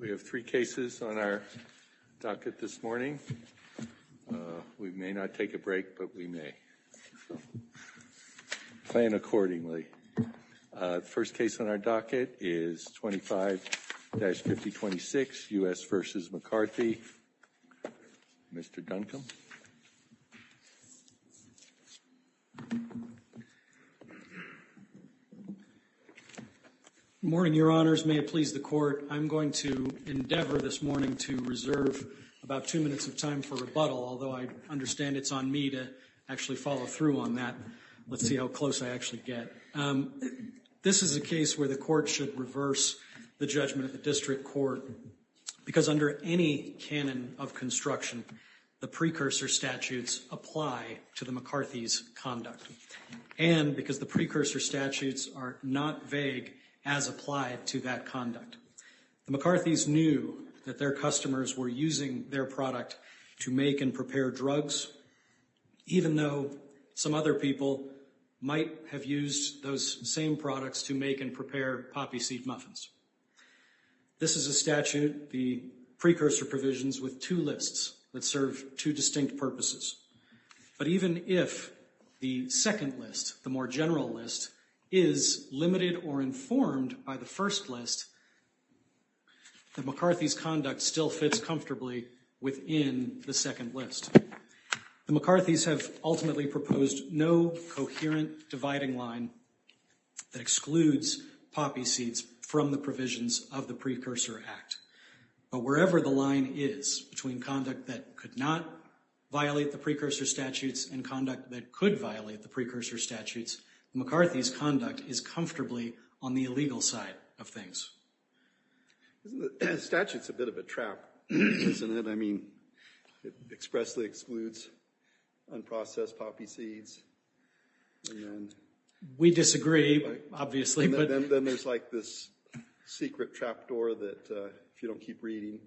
We have three cases on our docket this morning. We may not take a break, but we may. Plan accordingly. First case on our docket is 25-5026 U.S. v. McCarthy. Mr. Duncombe. Good morning, your honors. May it please the court. I'm going to endeavor this morning to reserve about two minutes of time for rebuttal, although I understand it's on me to actually follow through on that. Let's see how close I actually get. This is a case where the court should reverse the judgment of the district court because under any canon of construction, the precursor statutes apply to the McCarthy's conduct and because the precursor statutes are not vague as applied to that conduct. The McCarthy's knew that their customers were using their product to make and prepare drugs, even though some other people might have used those same products to make and prepare poppy seed muffins. This is a statute, the precursor provisions with two lists that serve two distinct purposes. But even if the second list, the more general list, is limited or informed by the first list, the McCarthy's conduct still fits comfortably within the second list. The McCarthy's have ultimately proposed no coherent dividing line that excludes poppy seeds from the provisions of the Precursor Act. But wherever the line is between conduct that could not violate the precursor statutes and conduct that could violate the precursor statutes, McCarthy's conduct is comfortably on the illegal side of things. The statute's a bit of a trap, isn't it? I mean, it expressly excludes unprocessed poppy seeds. We disagree, obviously. Then there's like this secret trapdoor that, if you don't keep reading,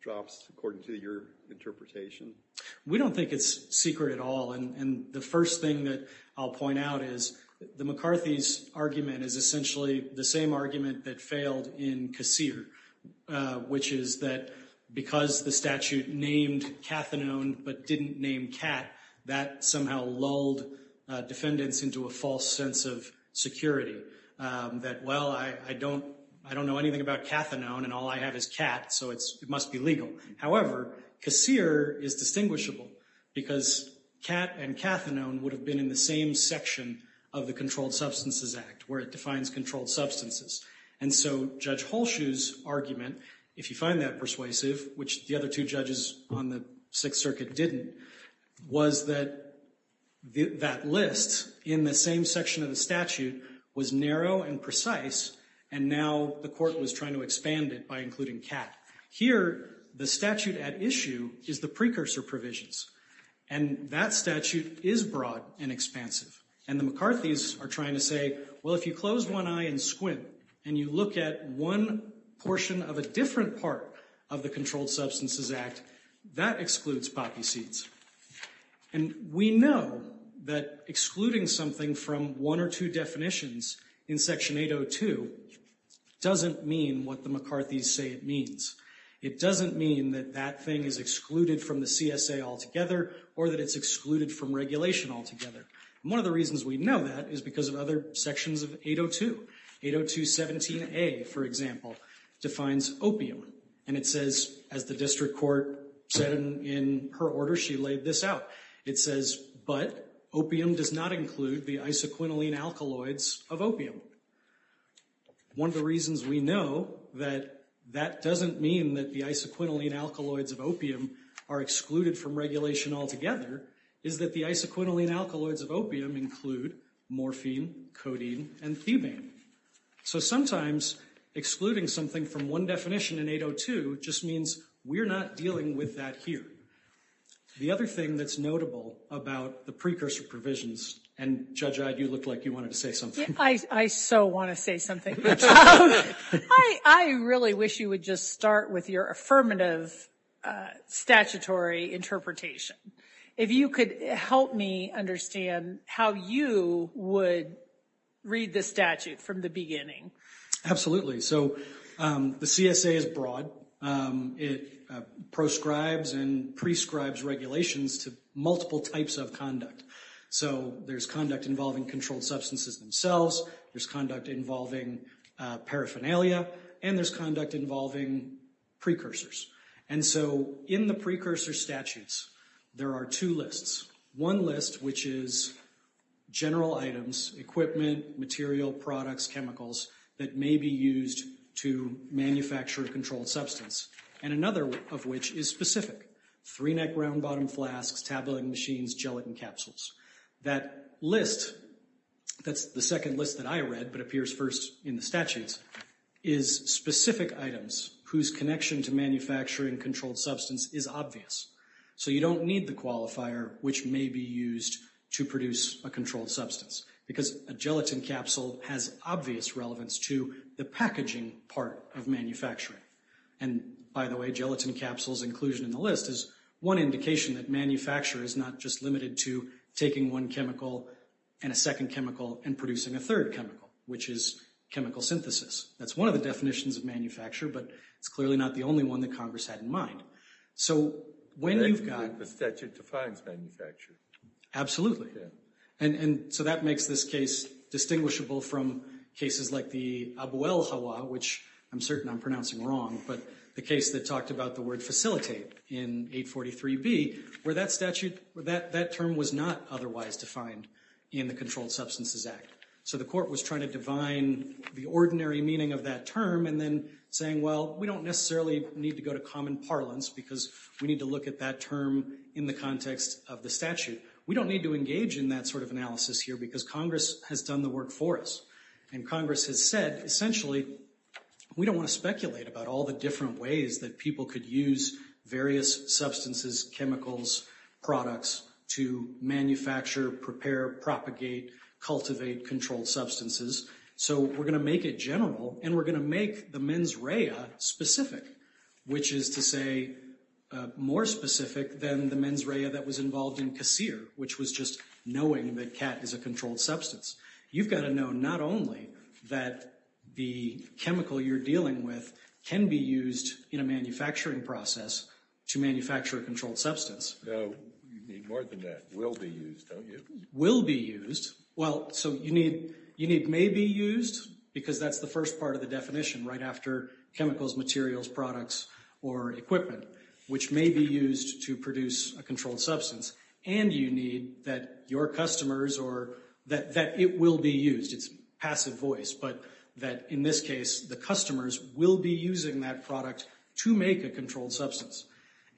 drops according to your interpretation. We don't think it's secret at all. And the first thing that I'll point out is the McCarthy's argument is essentially the same argument that failed in Kassir, which is that because the statute named cathinone but didn't name cat, that somehow lulled defendants into a false sense of security. That, well, I don't know anything about cathinone and all I have is cat, so it must be legal. However, Kassir is distinguishable because cat and cathinone would have been in the same section of the Controlled Substances Act, where it defines controlled substances. And so Judge Halshue's argument, if you find that persuasive, which the other two judges on the Sixth Circuit didn't, was that that list in the same section of the statute was narrow and precise, and now the court was trying to expand it by including cat. Here, the statute at issue is the precursor provisions. And that statute is broad and expansive. And the McCarthy's are trying to say, well, if you close one eye and squint, and you look at one portion of a different part of the Controlled Substances Act, that excludes poppy seeds. And we know that excluding something from one or two definitions in Section 802 doesn't mean what the McCarthy's say it means. It doesn't mean that that thing is excluded from the CSA altogether, or that it's excluded from regulation altogether. One of the reasons we know that is because of other sections of 802. 802.17a, for example, defines opium. And it says, as the district court said in her order, she laid this out. It says, but opium does not include the isoquinoline alkaloids of opium. One of the reasons we know that that doesn't mean that the isoquinoline alkaloids of opium are excluded from regulation altogether is that the isoquinoline alkaloids of opium include morphine, codeine, and thebane. So sometimes, excluding something from one definition in 802 just means we're not dealing with that here. The other thing that's notable about the precursor provisions, and Judge Eyde, you looked like you wanted to say something. I so want to say something. I really wish you would just start with your affirmative statutory interpretation. If you could help me understand how you would read this statute from the beginning. Absolutely. So the CSA is broad. It proscribes and prescribes regulations to multiple types of conduct. So there's conduct involving controlled substances themselves. There's conduct involving paraphernalia. And there's conduct involving precursors. And so in the precursor statutes, there are two lists. One list, which is general items, equipment, material, products, chemicals that may be used to manufacture a controlled substance. And another of which is specific. Three-neck round-bottom flasks, tabulating machines, gelatin capsules. That list, that's the second list that I read but appears first in the statutes, is specific items whose connection to manufacturing controlled substance is obvious. So you don't need the qualifier which may be used to produce a controlled substance because a gelatin capsule has obvious relevance to the packaging part of manufacturing. And by the way, gelatin capsules inclusion in the list is one indication that manufacture is not just limited to taking one chemical and a second chemical and producing a third chemical, which is chemical synthesis. That's one of the definitions of manufacture, but it's clearly not the only one that Congress had in mind. So when you've got... The statute defines manufacture. Absolutely. And so that makes this case distinguishable from cases like the Abu El Hawa, which I'm certain I'm pronouncing wrong, but the case that talked about the word facilitate in 843B, where that statute, that term was not otherwise defined in the Controlled Substances Act. So the court was trying to divine the ordinary meaning of that term and then saying, well, we don't necessarily need to go to common parlance because we need to look at that term in the context of the statute. We don't need to engage in that sort of analysis here because Congress has done the work for us. And Congress has said, essentially, we don't want to speculate about all the different ways that people could use various substances, chemicals, products to manufacture, prepare, propagate, cultivate controlled substances. So we're going to make it general and we're going to make the mens rea specific, which is to say more specific than the mens rea that was involved in casere, which was just knowing that cat is a controlled substance. You've got to know not only that the chemical you're dealing with can be used in a manufacturing process to manufacture a controlled substance. No, you need more than that, will be used, don't you? Will be used. Well, so you need may be used because that's the first part of the definition right after chemicals, materials, products, or equipment, which may be used to produce a controlled substance. And you need that your customers or that it will be used. It's passive voice, but that in this case, the customers will be using that product to make a controlled substance.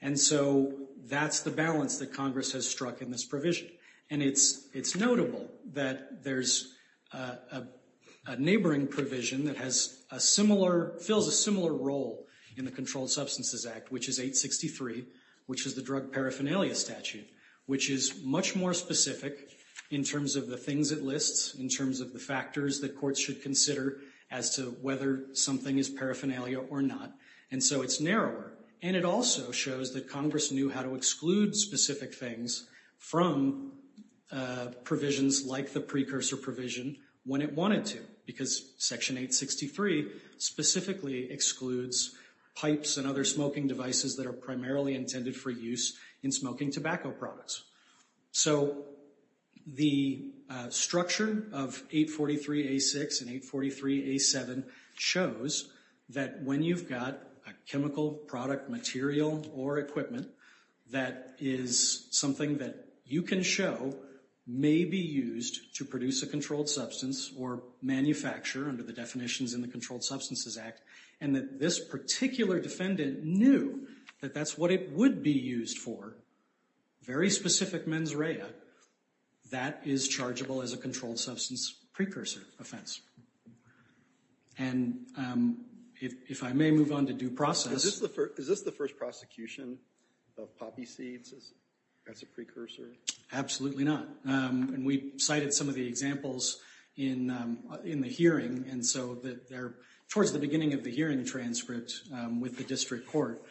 And so that's the balance that Congress has struck in this provision. And it's notable that there's a neighboring provision that has a similar, fills a similar role in the Controlled Substances Act, which is 863, which is the drug paraphernalia statute, which is much more specific in terms of the things it lists, in terms of the factors that courts should consider as to whether something is paraphernalia or not. And so it's narrower. And it also shows that Congress knew how to exclude specific things from provisions like the precursor provision when it wanted to, because Section 863 specifically excludes pipes and other smoking devices that are primarily intended for use in smoking tobacco products. So the structure of 843A6 and 843A7 shows that when you've got a chemical product, material, or equipment that is something that you can show may be used to produce a controlled substance or manufacture under the definitions in the Controlled Substances Act, and that this particular defendant knew that that's what it would be used for, very specific mens rea, that is chargeable as a controlled substance precursor offense. And if I may move on to due process. Is this the first prosecution of poppy seeds as a precursor? Absolutely not. And we cited some of the examples in the hearing. And so towards the beginning of the hearing transcript with the district court,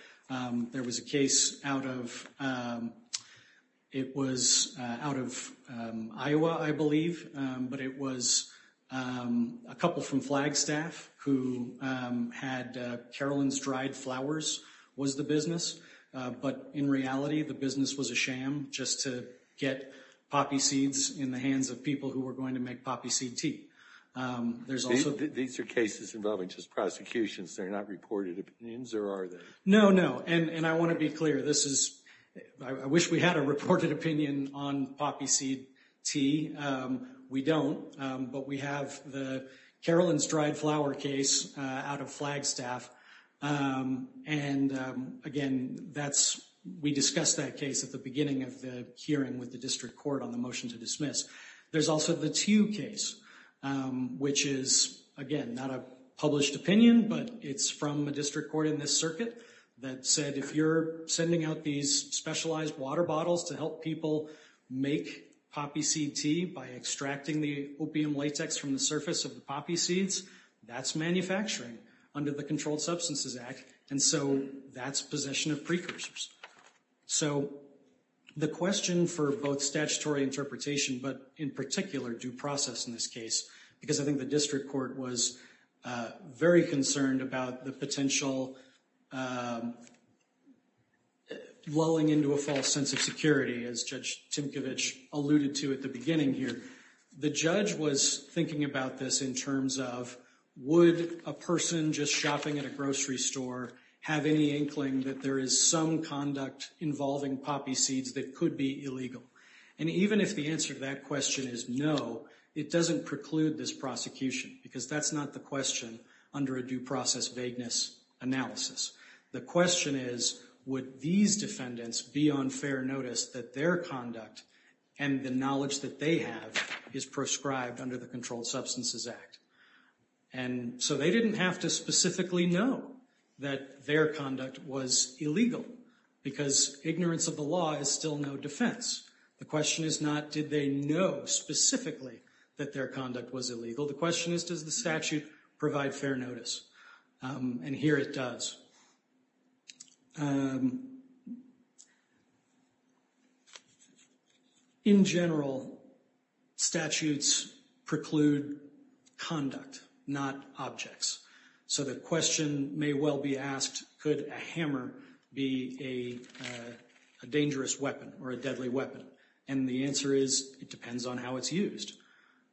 there was a case out of, it was out of Iowa, I believe, but it was a couple from Flagstaff who had Carolyn's Dried Flowers was the business. But in reality, the business was a sham just to get poppy seeds in the hands of people who were going to make poppy seed tea. There's also- These are cases involving just prosecutions. They're not reported opinions, or are they? No, no. And I want to be clear. This is, I wish we had a reported opinion on poppy seed tea. We don't, but we have the Carolyn's Dried Flower case out of Flagstaff. And again, that's, we discussed that case at the beginning of the hearing with the district court on the motion to dismiss. There's also the Tew case, which is, again, not a published opinion, but it's from a district court in this circuit that said, if you're sending out these specialized water bottles to help people make poppy seed tea by extracting the opium latex from the surface of the poppy seeds, that's manufacturing under the Controlled Substances Act. And so that's possession of precursors. So the question for both statutory interpretation, but in particular due process in this case, because I think the district court was very concerned about the potential lulling into a false sense of security, as Judge Tinkovich alluded to at the beginning here. The judge was thinking about this in terms of, would a person just shopping at a grocery store have any inkling that there is some conduct involving poppy seeds that could be illegal? And even if the answer to that question is no, it doesn't preclude this prosecution, because that's not the question under a due process vagueness analysis. The question is, would these defendants be on fair notice that their conduct and the knowledge that they have is prescribed under the Controlled Substances Act? And so they didn't have to specifically know that their conduct was illegal, because ignorance of the law is still no defense. The question is not, did they know specifically that their conduct was illegal? The question is, does the statute provide fair notice? And here it does. In general, statutes preclude conduct, not objects. So the question may well be asked, could a hammer be a dangerous weapon or a deadly weapon? And the answer is, it depends on how it's used.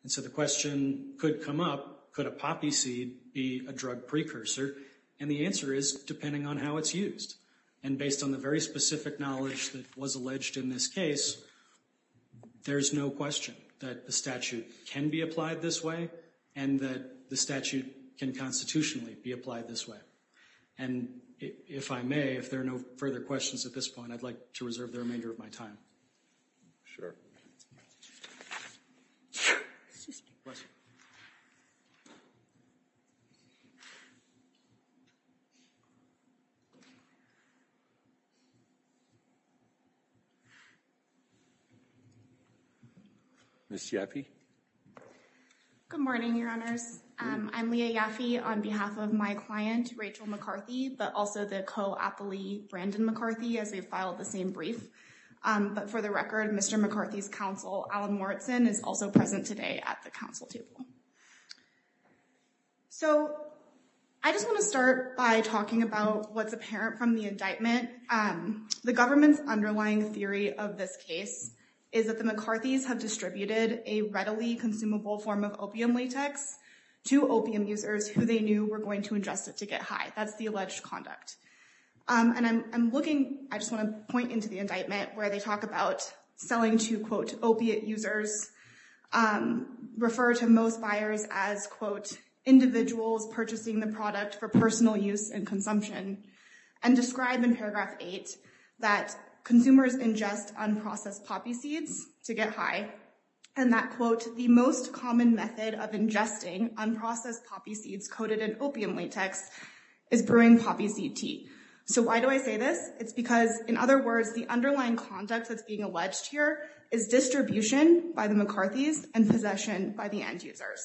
And so the question could come up, could a poppy seed be a drug precursor? And the answer is, depending on how it's used. And based on the very specific knowledge that was alleged in this case, there's no question that the statute can be applied this way and that the statute can constitutionally be applied this way. And if I may, if there are no further questions at this point, I'd like to reserve the remainder of my time. Sure. Ms. Yaffe? Good morning, Your Honors. I'm Leah Yaffe on behalf of my client, Rachel McCarthy, but also the co-appellee, Brandon McCarthy, as we filed the same brief. But for the record, Mr. McCarthy's counsel, Alan Morrison, is also present today at the counsel table. So I just want to start by talking about what's apparent from the indictment. The government's underlying theory of this case is that the McCarthys have distributed a readily consumable form of opium latex to opium users who they knew were going to ingest it to get high. That's the alleged conduct. And I'm looking, I just want to point into the indictment where they talk about selling to, quote, opiate users, refer to most buyers as, quote, individuals purchasing the product for personal use and consumption, and describe in paragraph eight that consumers ingest unprocessed poppy seeds to get high, and that, quote, the most common method of ingesting unprocessed poppy seeds coated in opium latex is brewing poppy seed tea. So why do I say this? It's because, in other words, the underlying conduct that's being alleged here is distribution by the McCarthys and possession by the end users.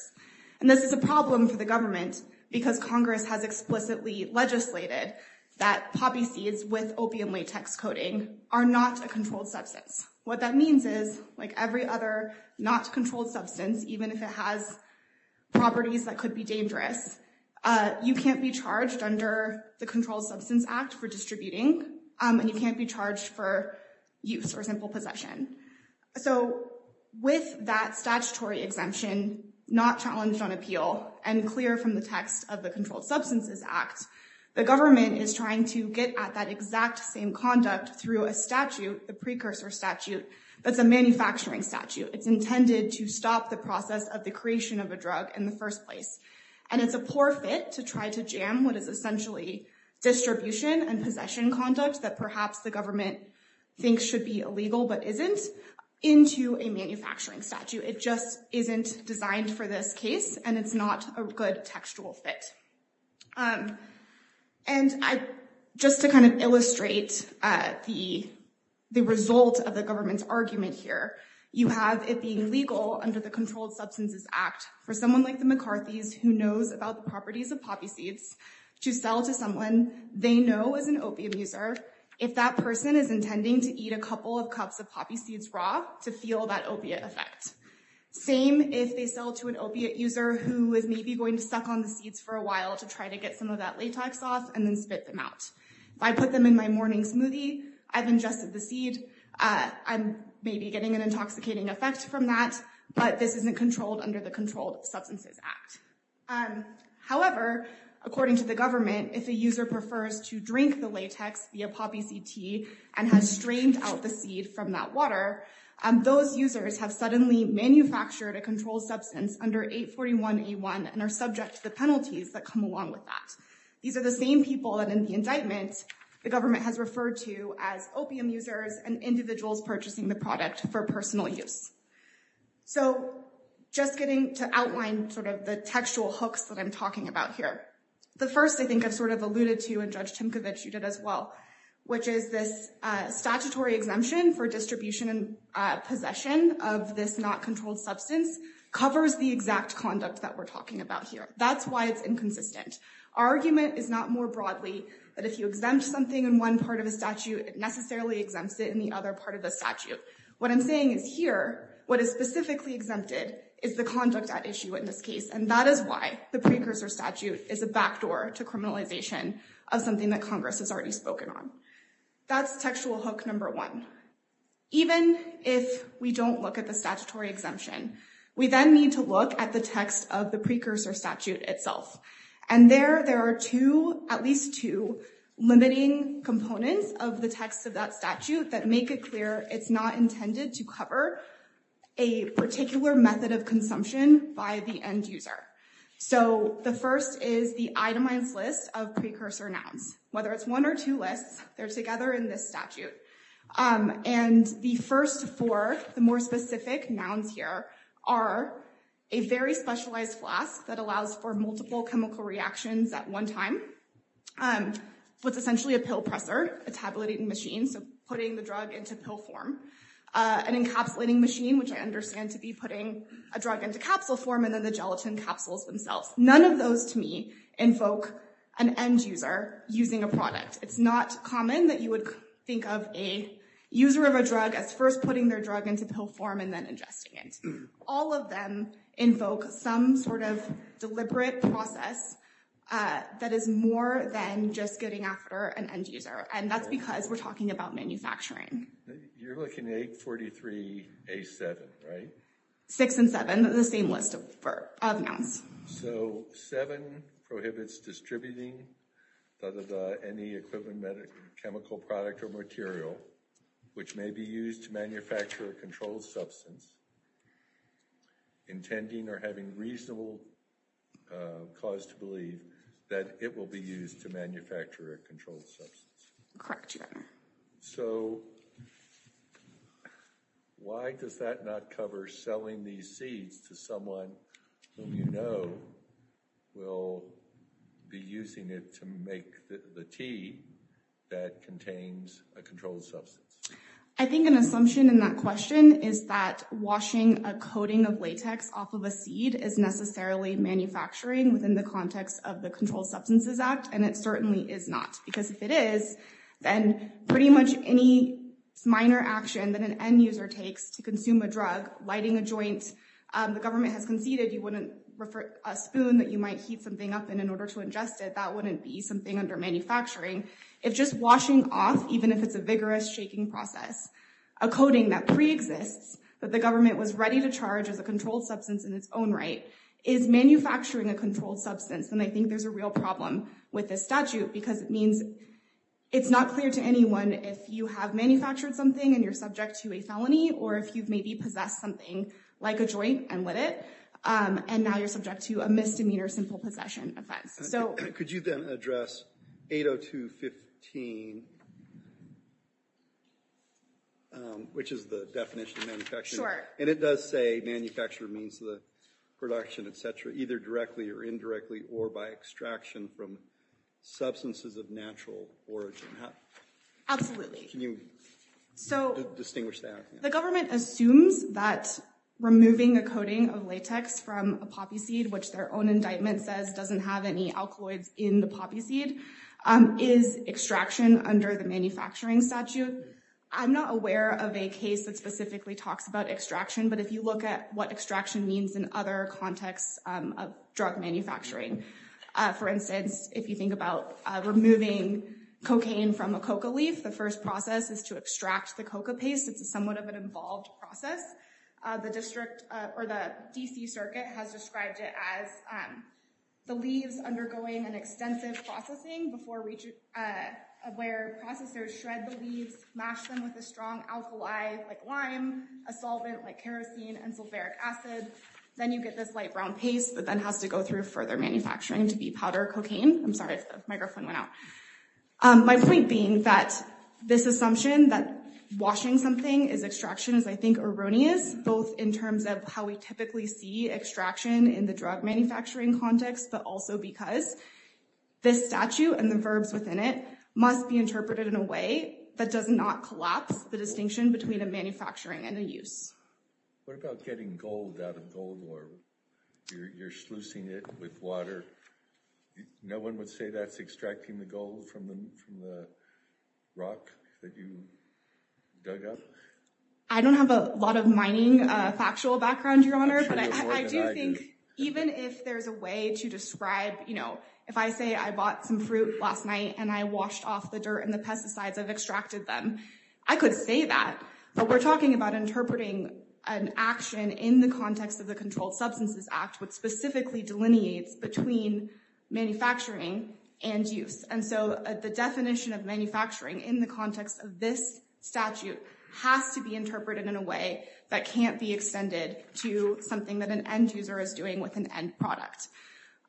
And this is a problem for the government because Congress has explicitly legislated that poppy seeds with opium latex coating are not a controlled substance. What that means is, like every other not controlled substance, even if it has properties that could be dangerous, you can't be charged under the Controlled Substance Act for distributing, and you can't be charged for use or simple possession. So with that statutory exemption not challenged on appeal and clear from the text of the Controlled Substances Act, the government is trying to get at that exact same conduct through a statute, the precursor statute, that's a manufacturing statute. It's intended to stop the process of the creation of a drug in the first place. And it's a poor fit to try to jam what is essentially distribution and possession conduct that perhaps the government thinks should be illegal but isn't into a manufacturing statute. It just isn't designed for this case, and it's not a good textual fit. And just to kind of illustrate the result of the government's argument here, you have it being legal under the Controlled Substances Act for someone like the McCarthy's who knows about the properties of poppy seeds to sell to someone they know is an opium user if that person is intending to eat a couple of cups of poppy seeds raw to feel that opiate effect. Same if they sell to an opiate user who is maybe going to suck on the seeds for a while to try to get some of that latex off and then spit them out. If I put them in my morning smoothie, I've ingested the seed, I'm maybe getting an intoxicating effect from that, but this isn't controlled under the Controlled Substances Act. However, according to the government, if a user prefers to drink the latex via poppy seed tea and has strained out the seed from that water, those users have suddenly manufactured a controlled substance under 841A1 and are subject to the penalties that come along with that. These are the same people that in the indictment the government has referred to as opium users and individuals purchasing the product for personal use. So just getting to outline sort of the textual hooks that I'm talking about here. The first I think I've sort of alluded to and Judge Timkovich you did as well, which is this statutory exemption for distribution and possession of this not controlled substance covers the exact conduct that we're talking about here. That's why it's inconsistent. Our argument is not more broadly that if you exempt something in one part of a statute, it necessarily exempts it in the other part of the statute. What I'm saying is here, what is specifically exempted is the conduct at issue in this case and that is why the precursor statute is a backdoor to criminalization of something that Congress has already spoken on. That's textual hook number one. Even if we don't look at the statutory exemption, we then need to look at the text of the precursor statute itself and there there are two at least two limiting components of the text of that statute that make it clear it's not intended to cover a particular method of consumption by the end user. So the first is the itemized list of precursor nouns, whether it's one or two lists, they're together in this statute and the first four, the more specific nouns here, are a very specialized flask that allows for multiple chemical reactions at one time, what's essentially a pill presser, a tabulating machine, so putting the drug into pill form, an encapsulating machine, which I understand to be putting a drug into capsule form and then the gelatin capsules themselves. None of those to me invoke an end user using a product. It's not common that you would think of a user of a drug as first putting their drug into pill form and then ingesting it. All of them invoke some sort of deliberate process that is more than just getting after an end user and that's because we're talking about manufacturing. You're looking at 843A7, right? 6 and 7, the same list of nouns. So 7 prohibits distributing any equivalent medical chemical product or material which may be used to manufacture a controlled substance, intending or having reasonable cause to believe that it will be used to manufacture a controlled substance. Correct, Your Honor. So why does that not cover selling these seeds to someone whom you know will be using it to make the tea that contains a controlled substance? I think an assumption in that question is that washing a coating of latex off of a seed is necessarily manufacturing within the context of the Controlled Substances Act and it certainly is not because if it is, then pretty much any minor action that an end user takes to consume a drug, lighting a joint, the government has conceded you wouldn't refer a spoon that you might heat something up in in order to ingest it, that wouldn't be something under manufacturing. If just washing off, even if it's a vigorous shaking process, a coating that pre-exists, that the government was ready to charge as a controlled substance in its own right, is manufacturing a controlled substance then I think there's a real problem with this statute because it means it's not clear to anyone if you have manufactured something and you're subject to a felony or if you've maybe possessed something like a joint and lit it and now you're subject to a misdemeanor sinful possession offense. So could you then address 802.15 which is the definition of manufacturing? And it does say manufacturer means the production etc. either directly or indirectly or by extraction from substances of natural origin. Absolutely. Can you distinguish that? The government assumes that removing a coating of latex from a poppy seed, which their own indictment says doesn't have any alkaloids in the poppy seed, is extraction under the manufacturing statute. I'm not aware of a case that specifically talks about extraction, but if you look at what extraction means in other contexts of drug manufacturing, for instance, if you think about removing cocaine from a coca leaf, the first process is to extract the coca paste. It's a somewhat of an involved process. The district or the DC Circuit has described it as the leaves undergoing an extensive processing before where processors shred the leaves, mash them with a strong alkali like lime, a solvent like kerosene and sulfuric acid. Then you get this light brown paste that then has to go through further manufacturing to be powder cocaine. I'm sorry if the microphone went out. My point being that this assumption that washing something is extraction is, I think, erroneous, both in terms of how we typically see extraction in the drug manufacturing context, but also because this statute and the verbs within it must be interpreted in a way that does not collapse the distinction between a manufacturing and a use. What about getting gold out of goldworm? You're sluicing it with water. No one would say that's extracting the gold from the rock that you dug up? I don't have a lot of mining factual background, Your Honor, but I do think even if there's a way to describe, you know, if I say I bought some fruit last night and I washed off the dirt and the pesticides, I've extracted them. I could say that, but we're talking about interpreting an action in the context of the Controlled Substances Act, which specifically delineates between manufacturing and use. And so the definition of manufacturing in the context of this statute has to be interpreted in a way that can't be extended to something that an end user is doing with an end product.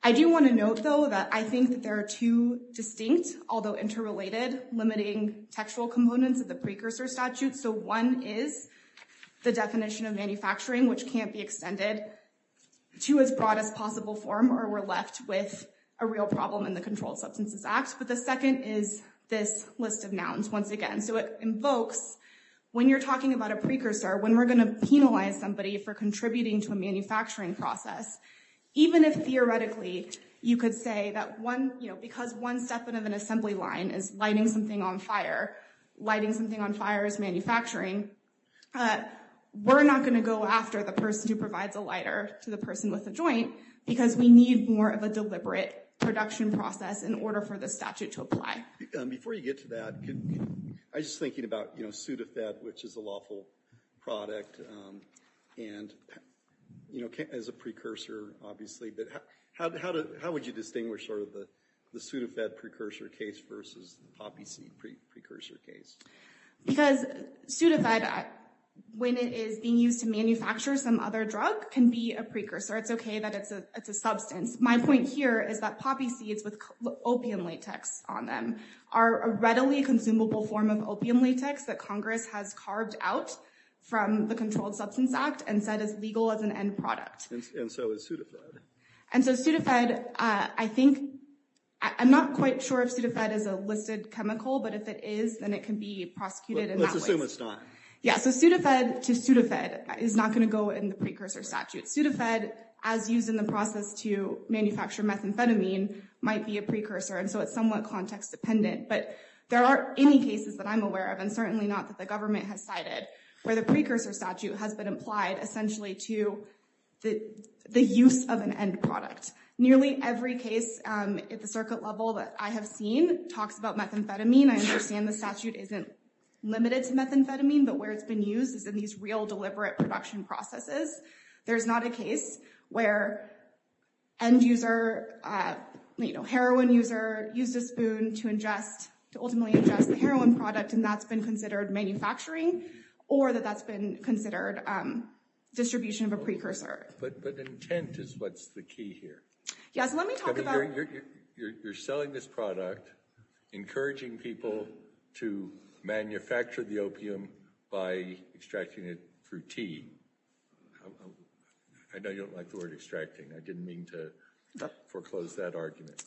I do want to note, though, that I think that there are two distinct, although interrelated, limiting textual components of the precursor statute. So one is the definition of manufacturing, which can't be extended to as broad as possible form, or we're left with a real problem in the Controlled Substances Act. But the second is this list of nouns once again. So it invokes, when you're talking about a precursor, when we're going to penalize somebody for contributing to a manufacturing process, even if theoretically you could say that one, you know, because one step of an assembly line is lighting something on fire, lighting something on fire is manufacturing, we're not going to go after the person who provides a lighter to the person with the joint because we need more of a deliberate production process in order for the statute to apply. Before you get to that, I was just thinking about, you know, obviously, but how would you distinguish sort of the Sudafed precursor case versus the poppy seed precursor case? Because Sudafed, when it is being used to manufacture some other drug, can be a precursor. It's okay that it's a substance. My point here is that poppy seeds with opium latex on them are a readily consumable form of opium latex that Congress has carved out from the Controlled Substances Act and said is legal as an end product. And so is Sudafed. And so Sudafed, I think, I'm not quite sure if Sudafed is a listed chemical, but if it is, then it can be prosecuted in that way. Let's assume it's not. Yeah, so Sudafed to Sudafed is not going to go in the precursor statute. Sudafed, as used in the process to manufacture methamphetamine, might be a precursor, and so it's somewhat context dependent. But there aren't any cases that I'm aware of, and certainly not that the government has cited, where the precursor statute has been applied essentially to the use of an end product. Nearly every case at the circuit level that I have seen talks about methamphetamine. I understand the statute isn't limited to methamphetamine, but where it's been used is in these real deliberate production processes. There's not a case where end user, heroin user, used a spoon to ingest, to ultimately ingest the heroin product, and that's been considered manufacturing, or that that's been considered distribution of a precursor. But intent is what's the key here. Yes, let me talk about- You're selling this product, encouraging people to manufacture the opium by extracting it through tea. I know you don't like the word extracting. I didn't mean to foreclose that argument.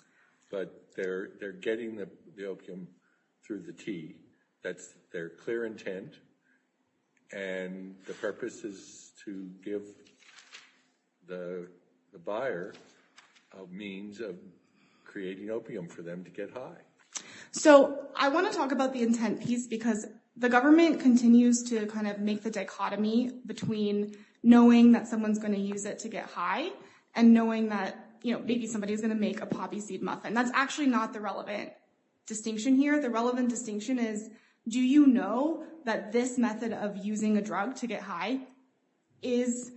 But they're getting the opium through the tea. That's their clear intent, and the purpose is to give the buyer a means of creating opium for them to get high. So I want to talk about the intent piece, because the government continues to kind of make the dichotomy between knowing that someone's going to use it to get high, and knowing that maybe somebody is going to make a poppy seed muffin. That's actually not the relevant distinction here. The relevant distinction is, do you know that this method of using a drug to get high is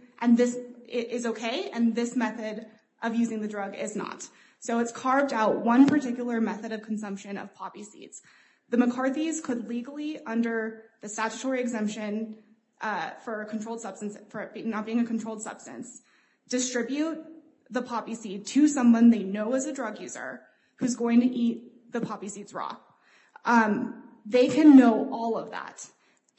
okay, and this method of using the drug is not? So it's carved out one particular method of consumption of poppy seeds. The McCarthy's could legally, under the statutory exemption for a controlled substance, for it not being a controlled substance, distribute the poppy seed to someone they know as a drug user, who's going to eat the poppy seeds raw. They can know all of that,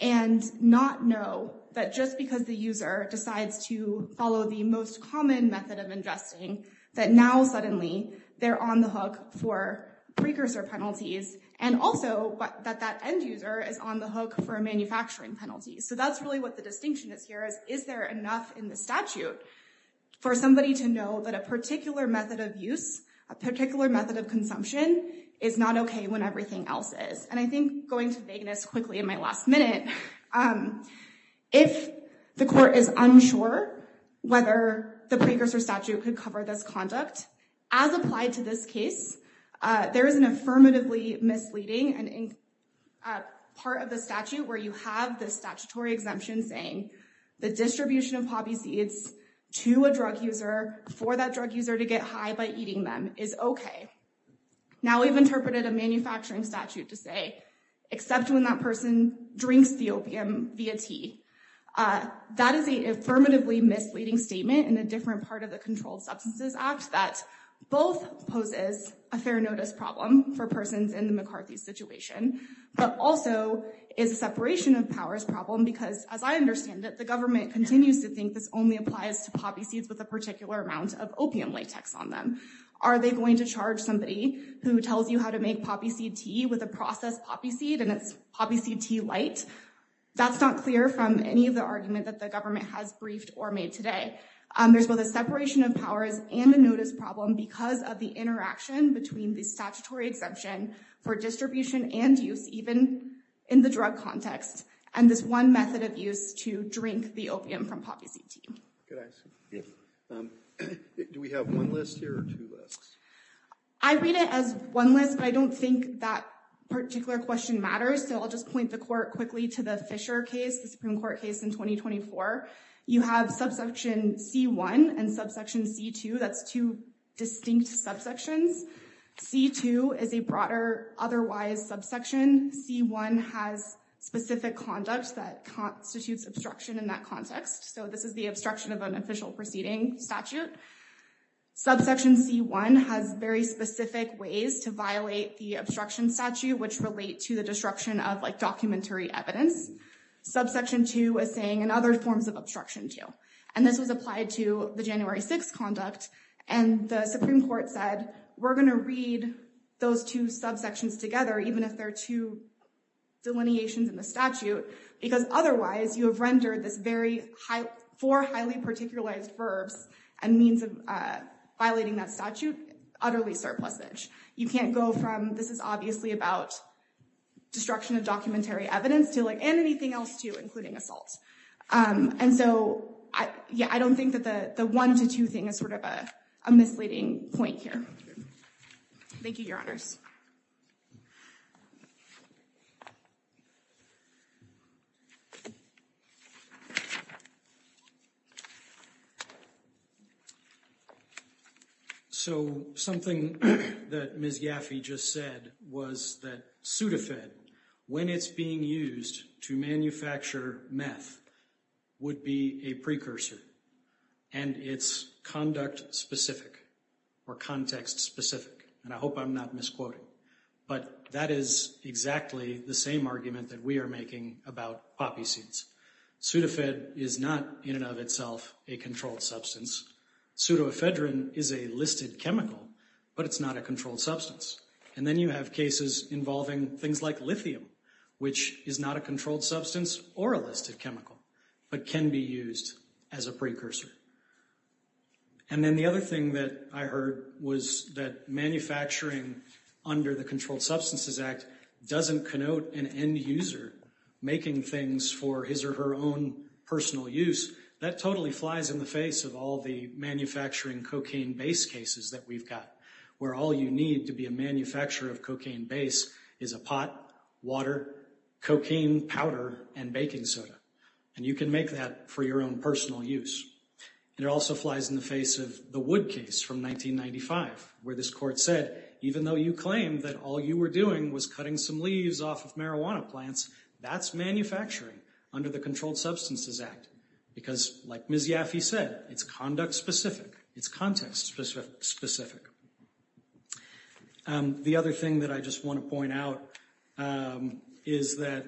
and not know that just because the user decides to follow the most common method of ingesting, that now suddenly they're on the hook for precursor penalties, and also that that end user is on the hook for a manufacturing penalty. So that's really what the distinction is here is, is there enough in the statute for somebody to know that a particular method of use, a particular method of consumption, is not okay when everything else is? And I think going to vagueness quickly in my last minute, if the court is unsure whether the precursor statute could cover this conduct, as applied to this case, there is an affirmatively misleading part of the statute, where you have this statutory exemption saying, the distribution of poppy seeds to a drug user, for that drug user to get high by eating them, is okay. Now we've interpreted a manufacturing statute to say, except when that person drinks the opium via tea. That is a affirmatively misleading statement in a different part of the Controlled Substances Act, that both poses a fair notice problem for persons in the McCarthy's situation, but also is a separation of powers problem, because as I understand it, the government continues to think this only applies to poppy seeds, with a particular amount of opium latex on them. Are they going to charge somebody who tells you how to make poppy seed tea, with a processed poppy seed and it's poppy seed tea light? That's not clear from any of the argument that the government has briefed or made today. There's both a separation of powers and a notice problem, because of the interaction between the statutory exemption, for distribution and use even in the drug context, and this one method of use to drink the opium from poppy seed tea. Good answer. Do we have one list here or two lists? I read it as one list, but I don't think that particular question matters. So I'll just point the court quickly to the Fisher case, the Supreme Court case in 2024. You have subsection C1 and subsection C2. That's two distinct subsections. C2 is a broader otherwise subsection. C1 has specific conduct that constitutes obstruction in that context. So this is the obstruction of an official proceeding statute. Subsection C1 has very specific ways to violate the obstruction statute, which relate to the destruction of like documentary evidence. Subsection C2 is saying and other forms of obstruction too, and this was applied to the January 6th conduct, and the Supreme Court said we're going to read those two subsections together, even if they're two delineations in the statute, because otherwise you have rendered this very high for highly particularized verbs and means of violating that statute utterly surplusage. You can't go from this is obviously about destruction of documentary evidence to like and anything else too, including assault. And so, yeah, I don't think that the one to two thing is sort of a misleading point here. Thank you, Your Honors. So something that Ms. Yaffe just said was that pseudofed, when it's being used to manufacture meth, would be a precursor, and it's conduct specific or context specific. And I hope I'm not misquoting, but that is exactly the same argument that we are making about poppy seeds. Pseudofed is not in and of itself a controlled substance. Pseudoephedrine is a listed chemical, but it's not a controlled substance. And then you have cases involving things like lithium, which is not a controlled substance or a listed chemical, but can be used as a precursor. And then the other thing that I heard was that manufacturing under the Controlled Substances Act doesn't connote an end user making things for his or her own personal use. That totally flies in the face of all the manufacturing cocaine base cases that we've got, where all you need to be a manufacturer of cocaine base is a pot, water, cocaine powder, and baking soda. And you can make that for your own personal use. It also flies in the face of the Wood case from 1995, where this court said, even though you claim that all you were doing was cutting some leaves off of marijuana plants, that's manufacturing under the Controlled Substances Act. Because, like Ms. Yaffe said, it's conduct specific. It's context specific. The other thing that I just want to point out is that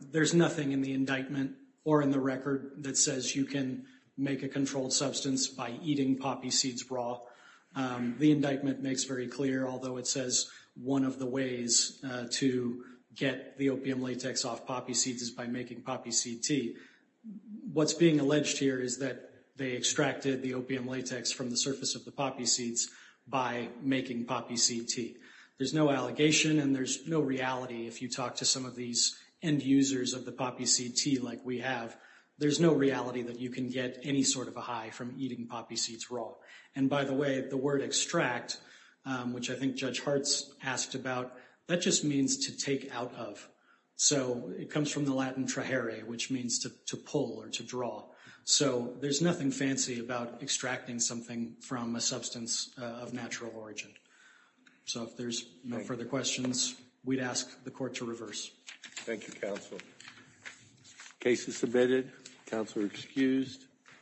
there's nothing in the indictment or in the record that says you can make a controlled substance by eating poppy seeds raw. The indictment makes very clear, although it says one of the ways to get the opium latex off poppy seeds is by making poppy seed tea. What's being alleged here is that they extracted the opium latex from the surface of the poppy seeds by making poppy seed tea. There's no allegation and there's no reality if you talk to some of these end users of the poppy seed tea like we have. There's no reality that you can get any sort of a high from eating poppy seeds raw. And by the way, the word extract, which I think Judge Hartz asked about, that just means to take out of. So, it comes from the Latin traere, which means to pull or to draw. So, there's nothing fancy about extracting something from a substance of natural origin. So, if there's no further questions, we'd ask the court to reverse. Thank you, counsel. Case is submitted. Counselor excused.